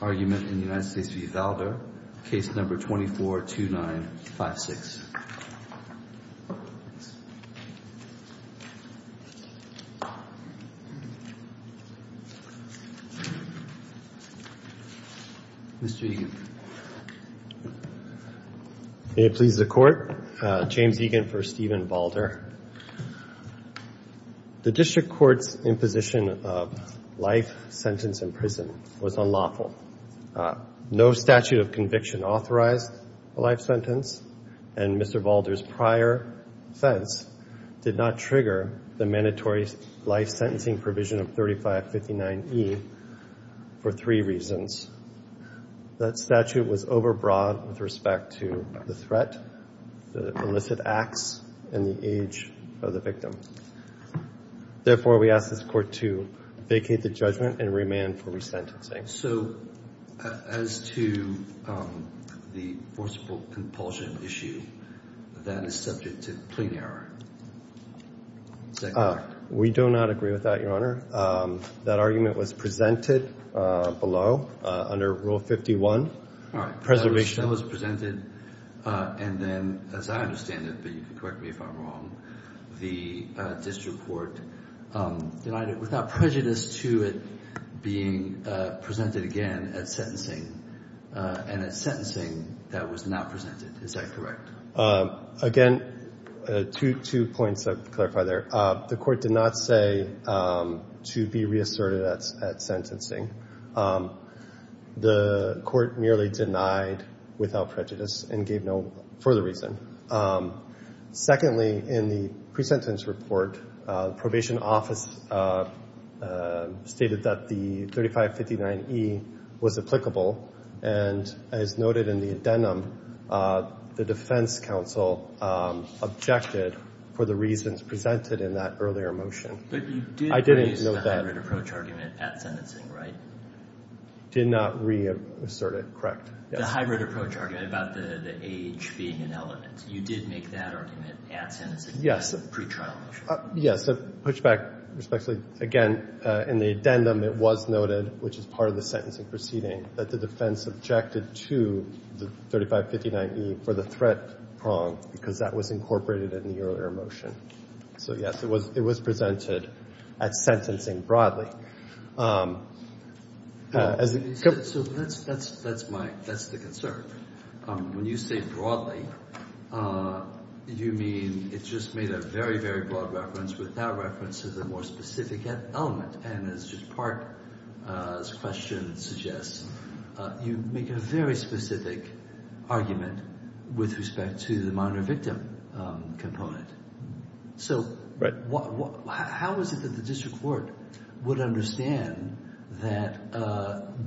Case No. 242956. Mr. Egan. May it please the Court. James Egan for Stephen Valder. The District Court's imposition of life sentence in prison was unlawful. No statute of conviction authorized a life sentence, and Mr. Valder's prior offense did not trigger the mandatory life sentencing provision of 3559E for three reasons. That statute was overbroad with respect to the threat, the illicit acts, and the age of the victim. Therefore, we ask this Court to vacate the judgment and remand for resentencing. So as to the forcible compulsion issue, that is subject to plain error. We do not agree with that, Your Honor. That argument was presented below under Rule 51. Preservation was presented, and then, as I understand it, but you can correct me if I'm wrong, the District Court denied it without prejudice to it being presented again at sentencing, and at sentencing that was not presented. Is that correct? Again, two points to clarify there. The Court did not say to be reasserted at sentencing. The Court merely denied without prejudice and gave no further reason. Secondly, in the pre-sentence report, the probation office stated that the 3559E was applicable, and as noted in the addendum, the defense counsel objected for the reasons presented in that earlier motion. But you did use the hybrid approach argument at sentencing, right? Did not reassert it, correct. The hybrid approach argument about the age being an element. You did make that argument at sentencing in the pretrial motion. Yes, a pushback, respectfully. Again, in the addendum, it was noted, which is part of the sentencing proceeding, that the defense objected to the 3559E for the threat prong because that was incorporated in the earlier motion. So, yes, it was presented at sentencing broadly. So that's the concern. When you say broadly, you mean it just made a very, very broad reference without reference to the more specific element. And as Judge Park's question suggests, you make a very specific argument with respect to the minor victim component. So how is it that the district court would understand that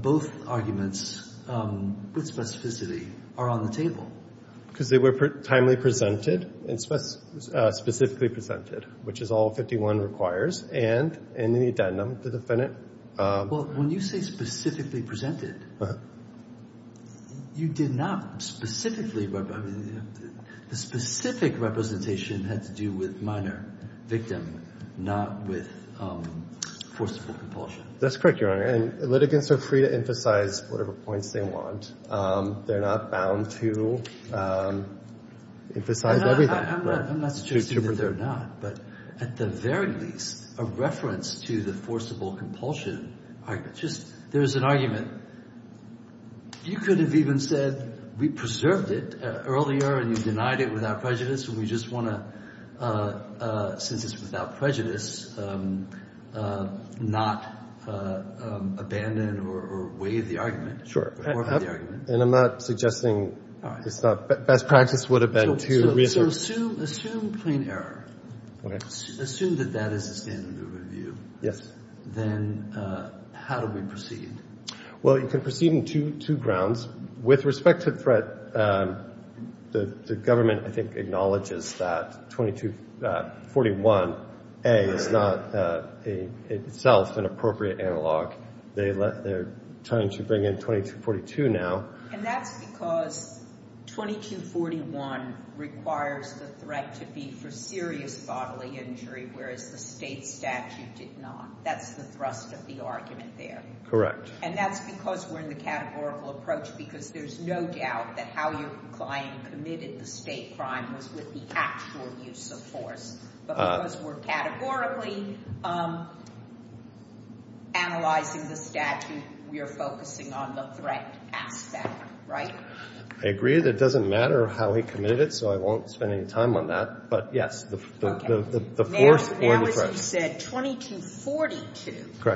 both arguments with specificity are on the table? Because they were timely presented and specifically presented, which is all 51 requires. And in the addendum, the defendant — Well, when you say specifically presented, you did not specifically — the specific representation had to do with minor victim, not with forcible compulsion. That's correct, Your Honor. And litigants are free to emphasize whatever points they want. They're not bound to emphasize everything. I'm not suggesting that they're not. But at the very least, a reference to the forcible compulsion argument. Just there's an argument. You could have even said we preserved it earlier and you denied it without prejudice, and we just want to, since it's without prejudice, not abandon or waive the argument. Sure. And I'm not suggesting it's not. Best practice would have been to reassert — So assume plain error. Okay. Assume that that is the standard of review. Yes. Then how do we proceed? Well, you can proceed on two grounds. With respect to threat, the government, I think, acknowledges that 2241A is not itself an appropriate analog. They're trying to bring in 2242 now. And that's because 2241 requires the threat to be for serious bodily injury, whereas the state statute did not. That's the thrust of the argument there. Correct. And that's because we're in the categorical approach, because there's no doubt that how your client committed the state crime was with the actual use of force. But because we're categorically analyzing the statute, we are focusing on the threat aspect. Right? I agree that it doesn't matter how he committed it, so I won't spend any time on that. But, yes, the force or the threat. As you said, 2242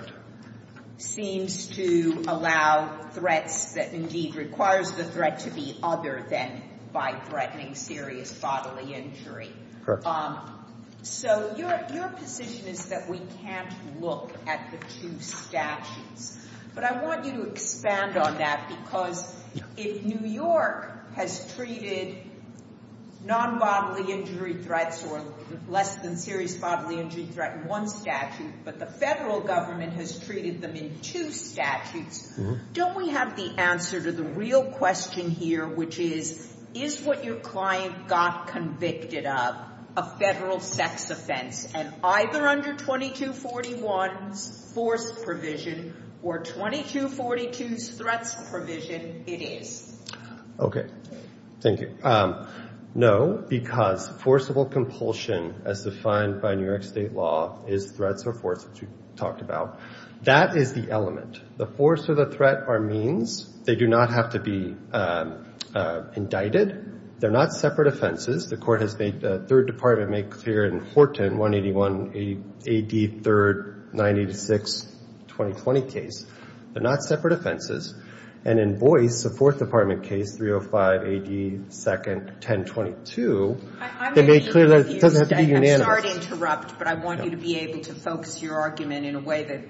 seems to allow threats that indeed requires the threat to be other than by threatening serious bodily injury. Correct. So your position is that we can't look at the two statutes. But I want you to expand on that, because if New York has treated non-bodily injury threats or less than serious bodily injury threat in one statute, but the federal government has treated them in two statutes, don't we have the answer to the real question here, which is, is what your client got convicted of a federal sex offense? And either under 2241's force provision or 2242's threats provision, it is. Okay. Thank you. No, because forcible compulsion, as defined by New York state law, is threats or force, which we talked about. That is the element. The force or the threat are means. They do not have to be indicted. They're not separate offenses. The court has made the third department make clear in Horton, 181 AD 3rd, 986, 2020 case. They're not separate offenses. And in Boyce, the fourth department case, 305 AD 2nd, 1022, they made clear that it doesn't have to be unanimous. I'm sorry to interrupt, but I want you to be able to focus your argument in a way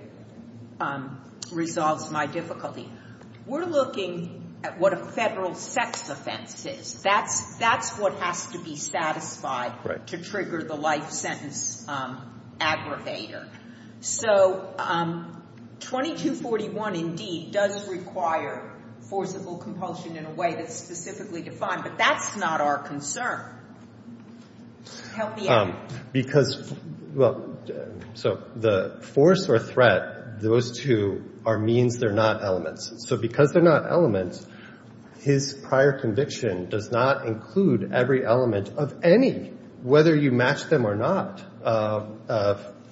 that resolves my difficulty. We're looking at what a federal sex offense is. That's what has to be satisfied to trigger the life sentence aggravator. So 2241 indeed does require forcible compulsion in a way that's specifically defined, but that's not our concern. Help me out. Because, well, so the force or threat, those two are means. They're not elements. So because they're not elements, his prior conviction does not include every element of any, whether you match them or not,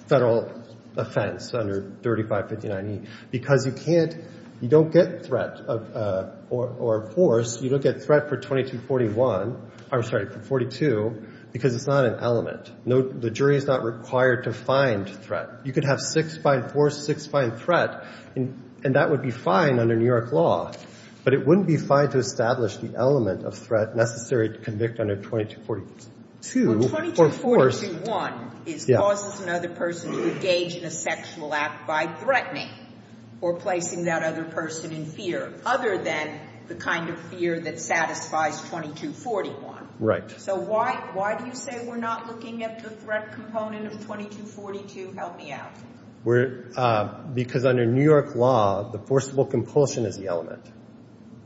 federal offense under 3559. Because you can't, you don't get threat or force, you don't get threat for 2241. I'm sorry, for 42, because it's not an element. The jury is not required to find threat. You could have six find force, six find threat, and that would be fine under New York law. But it wouldn't be fine to establish the element of threat necessary to convict under 2242. Well, 2241 causes another person to engage in a sexual act by threatening or placing that other person in fear, other than the kind of fear that satisfies 2241. Right. So why do you say we're not looking at the threat component of 2242? Help me out. Because under New York law, the forcible compulsion is the element.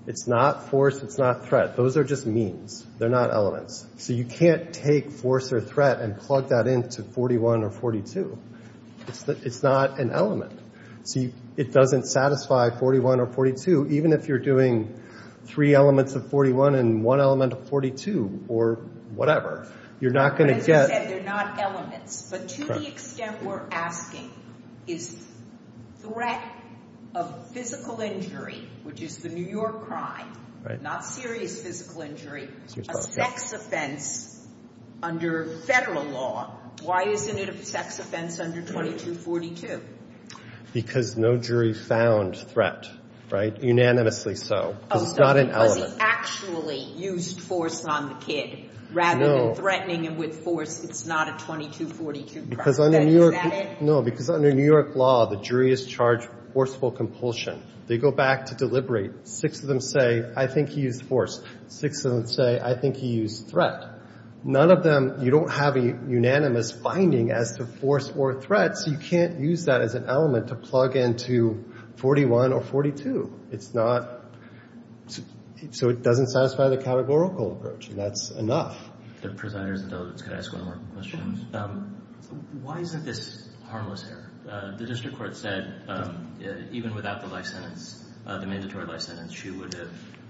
It's not force. It's not threat. Those are just means. They're not elements. So you can't take force or threat and plug that into 41 or 42. It's not an element. So it doesn't satisfy 41 or 42, even if you're doing three elements of 41 and one element of 42 or whatever. You're not going to get — As I said, they're not elements. But to the extent we're asking, is threat of physical injury, which is the New York crime, not serious physical injury, a sex offense under Federal law, why isn't it a sex offense under 2242? Because no jury found threat, right? Unanimously so. Because it's not an element. Because he actually used force on the kid rather than threatening him with force. It's not a 2242 crime. Is that it? No, because under New York law, the jury is charged with forceful compulsion. They go back to deliberate. Six of them say, I think he used force. Six of them say, I think he used threat. None of them — you don't have a unanimous finding as to force or threat, so you can't use that as an element to plug into 41 or 42. It's not — so it doesn't satisfy the categorical approach. And that's enough. If the presider is indulgent, can I ask one more question? Why isn't this harmless here? The district court said even without the life sentence, the mandatory life sentence, she would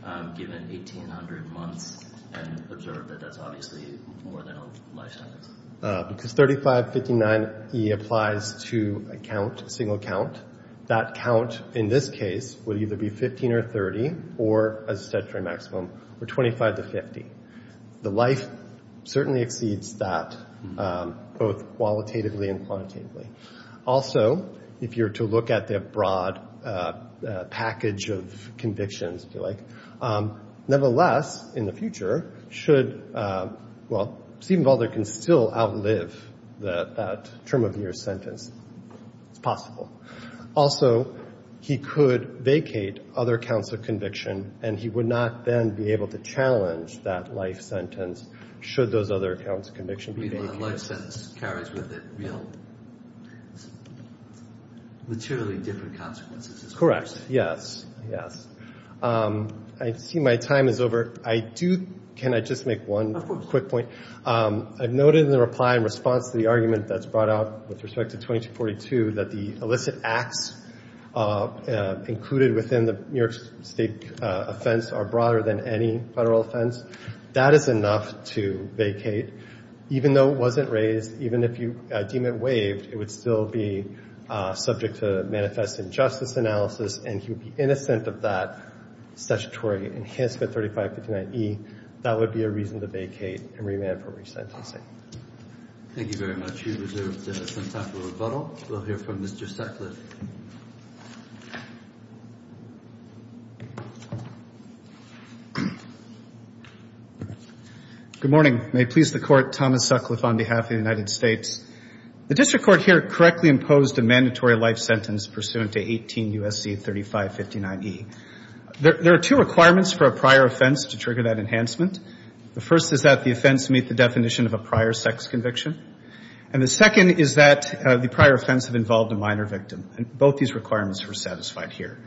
have given 1,800 months and observed that that's obviously more than a life sentence. Because 3559e applies to a count, a single count. That count in this case would either be 15 or 30 or, as a statutory maximum, 25 to 50. The life certainly exceeds that, both qualitatively and quantitatively. Also, if you were to look at the broad package of convictions, if you like, nevertheless, in the future, should — well, Stephen Balder can still outlive that term of year sentence. It's possible. Also, he could vacate other counts of conviction, and he would not then be able to challenge that life sentence should those other counts of conviction be vacated. Life sentence carries with it real, materially different consequences. Correct. Yes. Yes. I see my time is over. I do — can I just make one quick point? I've noted in the reply in response to the argument that's brought out with respect to 2242 that the illicit acts included within the New York State offense are broader than any federal offense. That is enough to vacate. Even though it wasn't raised, even if you deem it waived, it would still be subject to manifest injustice analysis, and he would be innocent of that statutory enhancement, 3559e. That would be a reason to vacate and remand for resentencing. Thank you very much. If you reserve the time for rebuttal, we'll hear from Mr. Sutcliffe. Good morning. May it please the Court, Thomas Sutcliffe on behalf of the United States. The district court here correctly imposed a mandatory life sentence pursuant to 18 U.S.C. 3559e. There are two requirements for a prior offense to trigger that enhancement. The first is that the offense meet the definition of a prior sex conviction, and the second is that the prior offense have involved a minor victim. Both these requirements are satisfied here.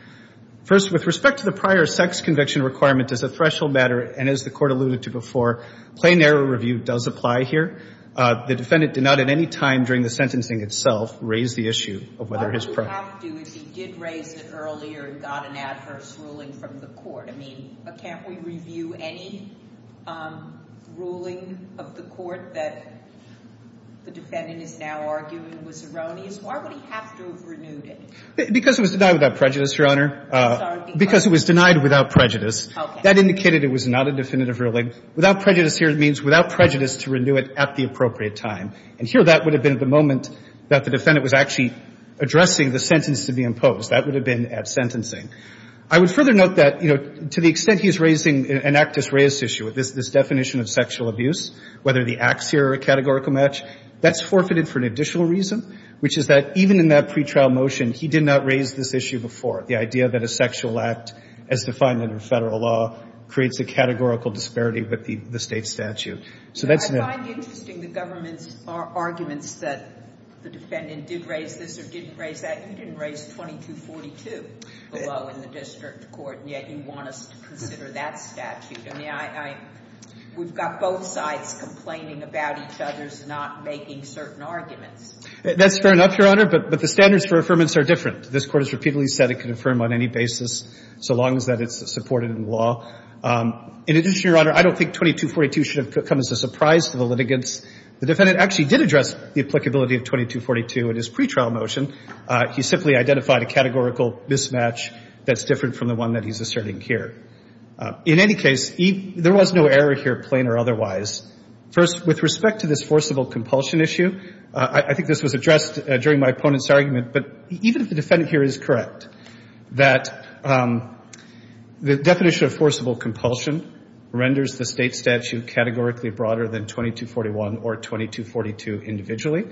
First, with respect to the prior sex conviction requirement as a threshold matter, and as the Court alluded to before, plain error review does apply here. The defendant did not at any time during the sentencing itself raise the issue of whether his prior. He did raise it earlier and got an adverse ruling from the Court. I mean, can't we review any ruling of the Court that the defendant is now arguing was erroneous? Why would he have to have renewed it? Because it was denied without prejudice, Your Honor. I'm sorry, because? Because it was denied without prejudice. Okay. That indicated it was not a definitive ruling. Without prejudice here means without prejudice to renew it at the appropriate time. And here that would have been at the moment that the defendant was actually addressing the sentence to be imposed. That would have been at sentencing. I would further note that, you know, to the extent he is raising an actus reus issue, this definition of sexual abuse, whether the acts here are a categorical match, that's forfeited for an additional reason, which is that even in that pretrial motion, he did not raise this issue before. The idea that a sexual act, as defined under Federal law, creates a categorical disparity with the State statute. So that's not. I find interesting the government's arguments that the defendant did raise this or didn't raise that. You didn't raise 2242 below in the district court, and yet you want us to consider that statute. I mean, we've got both sides complaining about each other's not making certain arguments. That's fair enough, Your Honor, but the standards for affirmance are different. This Court has repeatedly said it can affirm on any basis so long as that it's supported in law. In addition, Your Honor, I don't think 2242 should have come as a surprise to the litigants. The defendant actually did address the applicability of 2242 in his pretrial motion. He simply identified a categorical mismatch that's different from the one that he's asserting here. In any case, there was no error here, plain or otherwise. First, with respect to this forcible compulsion issue, I think this was addressed during my opponent's argument, but even if the defendant here is correct, that the definition of forcible compulsion renders the State statute categorically broader than 2241 or 2242 individually.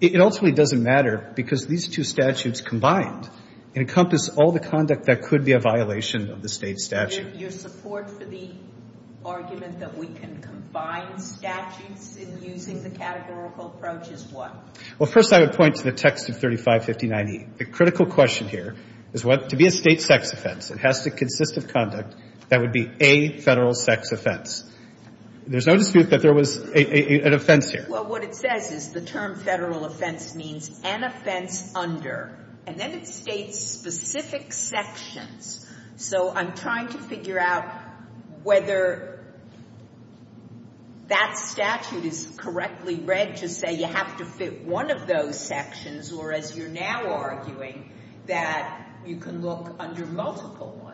It ultimately doesn't matter because these two statutes combined encompass all the conduct that could be a violation of the State statute. Your support for the argument that we can combine statutes in using the categorical approach is what? Well, first, I would point to the text of 3559E. The critical question here is what? To be a State sex offense, it has to consist of conduct that would be a Federal sex offense. There's no dispute that there was an offense here. Well, what it says is the term Federal offense means an offense under. And then it states specific sections. So I'm trying to figure out whether that statute is correctly read to say you have to fit one of those sections or, as you're now arguing, that you can look under multiple ones.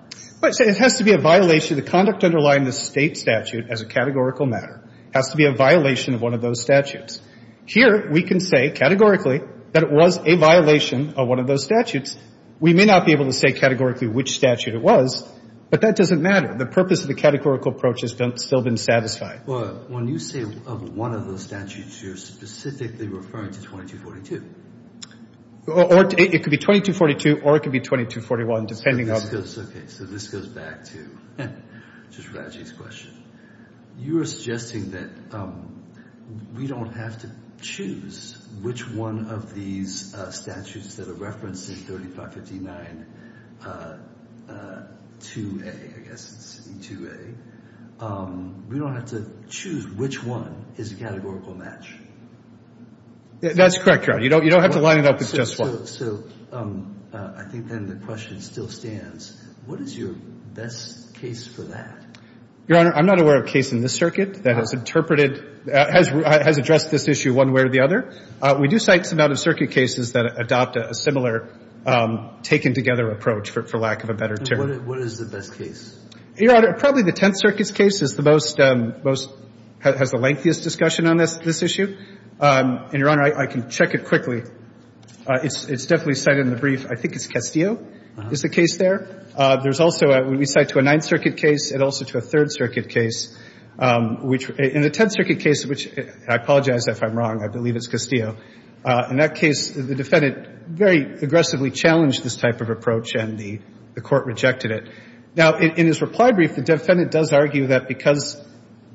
It has to be a violation. The conduct underlying the State statute as a categorical matter has to be a violation of one of those statutes. Here, we can say categorically that it was a violation of one of those statutes. We may not be able to say categorically which statute it was, but that doesn't matter. The purpose of the categorical approach has still been satisfied. Well, when you say of one of those statutes, you're specifically referring to 2242. It could be 2242 or it could be 2241, depending on. Okay. So this goes back to just Raji's question. You are suggesting that we don't have to choose which one of these statutes that are referenced in 3559-2A, I guess it's 2A. We don't have to choose which one is a categorical match. That's correct, Your Honor. You don't have to line it up with just one. So I think then the question still stands. What is your best case for that? Your Honor, I'm not aware of a case in this circuit that has interpreted, has addressed this issue one way or the other. We do cite some out-of-circuit cases that adopt a similar taken-together approach, for lack of a better term. What is the best case? Your Honor, probably the Tenth Circuit's case is the most, has the lengthiest discussion on this issue. And, Your Honor, I can check it quickly. It's definitely cited in the brief. I think it's Castillo is the case there. There's also, we cite to a Ninth Circuit case and also to a Third Circuit case, which in the Tenth Circuit case, which I apologize if I'm wrong. I believe it's Castillo. In that case, the defendant very aggressively challenged this type of approach and the Court rejected it. Now, in his reply brief, the defendant does argue that because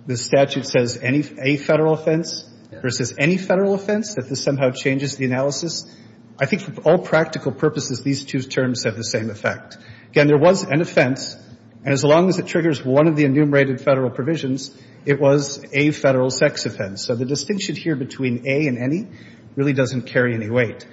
the statute says any federal offense versus any federal offense, that this somehow changes the analysis. I think for all practical purposes, these two terms have the same effect. Again, there was an offense, and as long as it triggers one of the enumerated federal provisions, it was a federal sex offense. So the distinction here between a and any really doesn't carry any weight.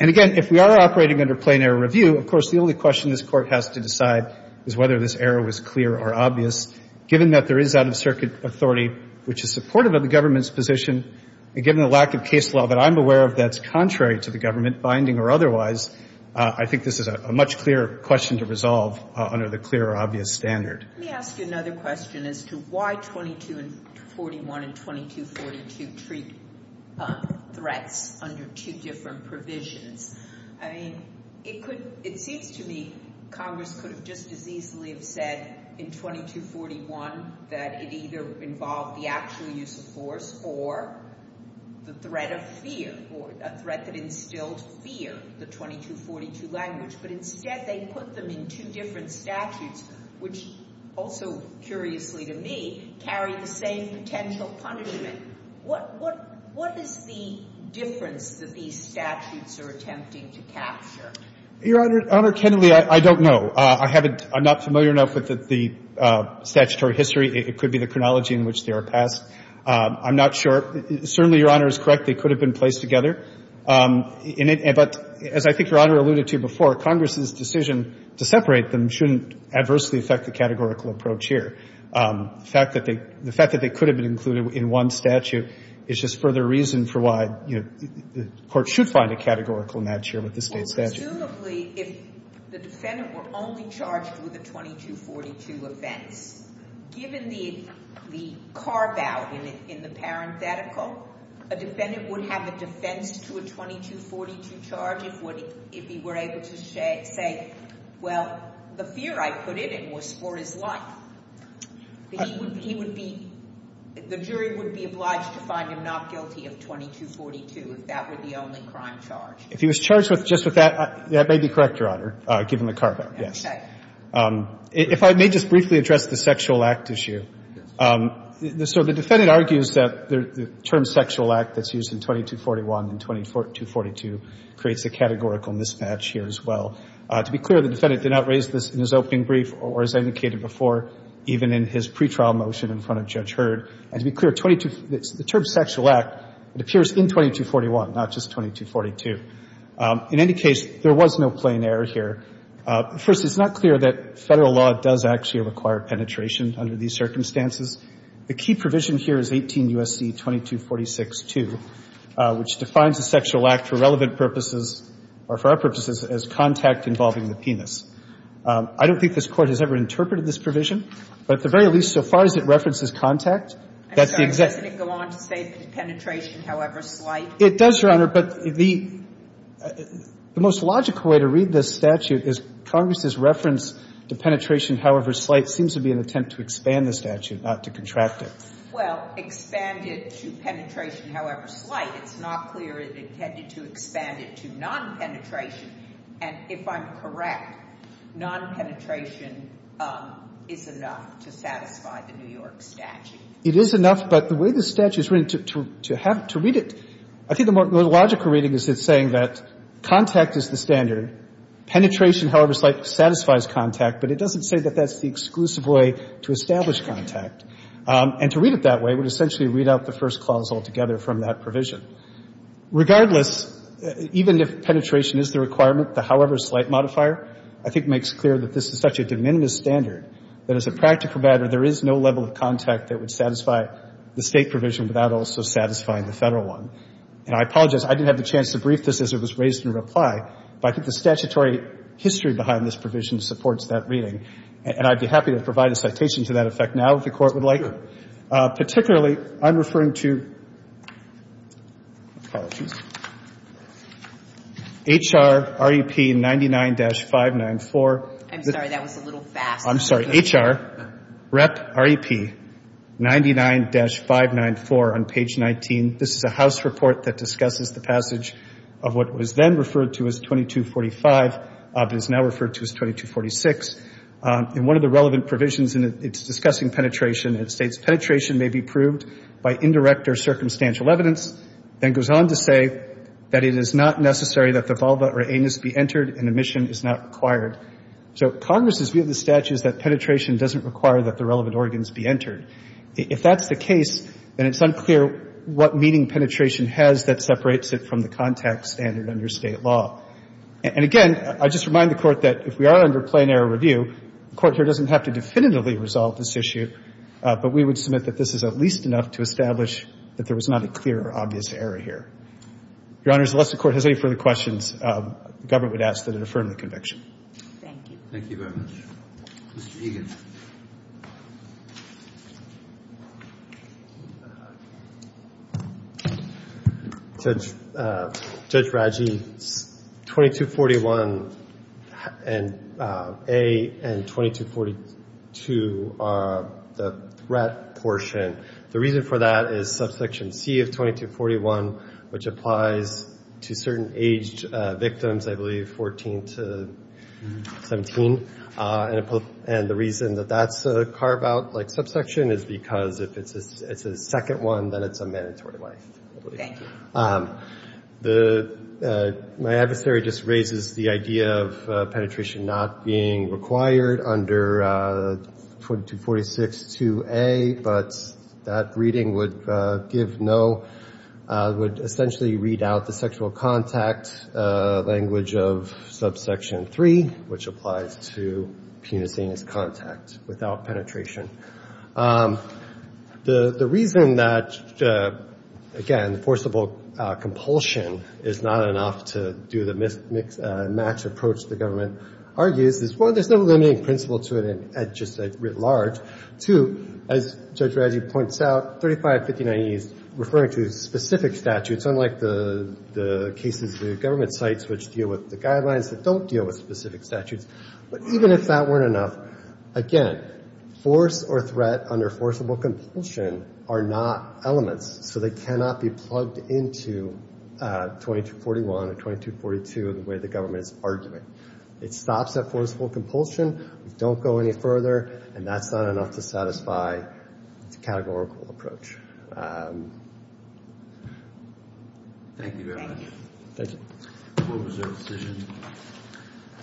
And, again, if we are operating under plain error review, of course, the only question this Court has to decide is whether this error was clear or obvious, given that there is out-of-circuit authority, which is supportive of the government's position, and given the lack of case law that I'm aware of that's contrary to the government, binding or otherwise, I think this is a much clearer question to resolve under the clear or obvious standard. Let me ask you another question as to why 2241 and 2242 treat threats under two different provisions. I mean, it seems to me Congress could have just as easily have said in 2241 that it either involved the actual use of force or the threat of fear or a threat that instilled fear, the 2242 language, but instead they put them in two different statutes, which also, curiously to me, carry the same potential punishment. What is the difference that these statutes are attempting to capture? Your Honor, technically, I don't know. I'm not familiar enough with the statutory history. It could be the chronology in which they were passed. I'm not sure. Certainly, Your Honor is correct. They could have been placed together. But as I think Your Honor alluded to before, Congress's decision to separate them shouldn't adversely affect the categorical approach here. The fact that they could have been included in one statute is just further reason for why the Court should find a categorical match here with the state statute. Assumably, if the defendant were only charged with a 2242 offense, given the carve-out in the parenthetical, a defendant would have a defense to a 2242 charge if he were able to say, well, the fear, I put it, was for his life. He would be – the jury would be obliged to find him not guilty of 2242 if that were the only crime charge. If he was charged just with that, that may be correct, Your Honor, given the carve-out. If I may just briefly address the sexual act issue. So the defendant argues that the term sexual act that's used in 2241 and 2242 creates a categorical mismatch here as well. To be clear, the defendant did not raise this in his opening brief or, as I indicated before, even in his pretrial motion in front of Judge Heard. And to be clear, 22 – the term sexual act, it appears in 2241, not just 2242. In any case, there was no plain error here. First, it's not clear that Federal law does actually require penetration under these circumstances. The key provision here is 18 U.S.C. 2246-2, which defines the sexual act for relevant purposes, or for our purposes, as contact involving the penis. I don't think this Court has ever interpreted this provision, but at the very least, so far as it references contact, that's the exact – Doesn't it go on to say that penetration, however slight? It does, Your Honor. But the most logical way to read this statute is Congress's reference to penetration however slight seems to be an attempt to expand the statute, not to contract it. Well, expand it to penetration however slight. It's not clear it intended to expand it to non-penetration. And if I'm correct, non-penetration is enough to satisfy the New York statute. It is enough, but the way the statute is written, to have – to read it – I think the more logical reading is it's saying that contact is the standard, penetration however slight satisfies contact, but it doesn't say that that's the exclusive way to establish contact. And to read it that way would essentially read out the first clause altogether from that provision. Regardless, even if penetration is the requirement, the however slight modifier, I think makes clear that this is such a de minimis standard that as a practical matter, there is no level of contact that would satisfy the State provision without also satisfying the Federal one. And I apologize. I didn't have the chance to brief this as it was raised in reply, but I think the statutory history behind this provision supports that reading, and I'd be happy to provide a citation to that effect now if the Court would like. Particularly, I'm referring to HR REP 99-594. I'm sorry. That was a little fast. I'm sorry. HR REP 99-594 on page 19. This is a House report that discusses the passage of what was then referred to as 2245. It is now referred to as 2246. And one of the relevant provisions in it, it's discussing penetration. It states, Penetration may be proved by indirect or circumstantial evidence. Then goes on to say that it is not necessary that the vulva or anus be entered and admission is not required. So Congress's view of the statute is that penetration doesn't require that the relevant organs be entered. If that's the case, then it's unclear what meaning penetration has that separates it from the contact standard under State law. And again, I just remind the Court that if we are under plain error review, the Court here doesn't have to definitively resolve this issue, but we would submit that this is at least enough to establish that there was not a clear or obvious error here. Your Honors, unless the Court has any further questions, the Government would ask that it affirm the conviction. Thank you. Thank you very much. Mr. Egan. Judge Raggi, 2241A and 2242, the threat portion, the reason for that is subsection C of 2241, which applies to certain aged victims, I believe 14 to 17. And the reason that that's carved out like subsection is because if it's a second one, then it's a mandatory wife. Okay. My adversary just raises the idea of penetration not being required under 22462A, but that reading would give no, would essentially read out the sexual contact language of subsection 3, which applies to penising as contact without penetration. The reason that, again, forcible compulsion is not enough to do the mismatch approach the Government argues is, one, there's no limiting principle to it at just writ large. Two, as Judge Raggi points out, 3559E is referring to specific statutes, unlike the cases the Government cites which deal with the guidelines that don't deal with specific statutes. But even if that weren't enough, again, force or threat under forcible compulsion are not elements, so they cannot be plugged into 2241 or 2242 the way the Government is arguing. It stops at forcible compulsion. We don't go any further, and that's not enough to satisfy the categorical approach. Thank you, Your Honor. Thank you. The court is adjourned.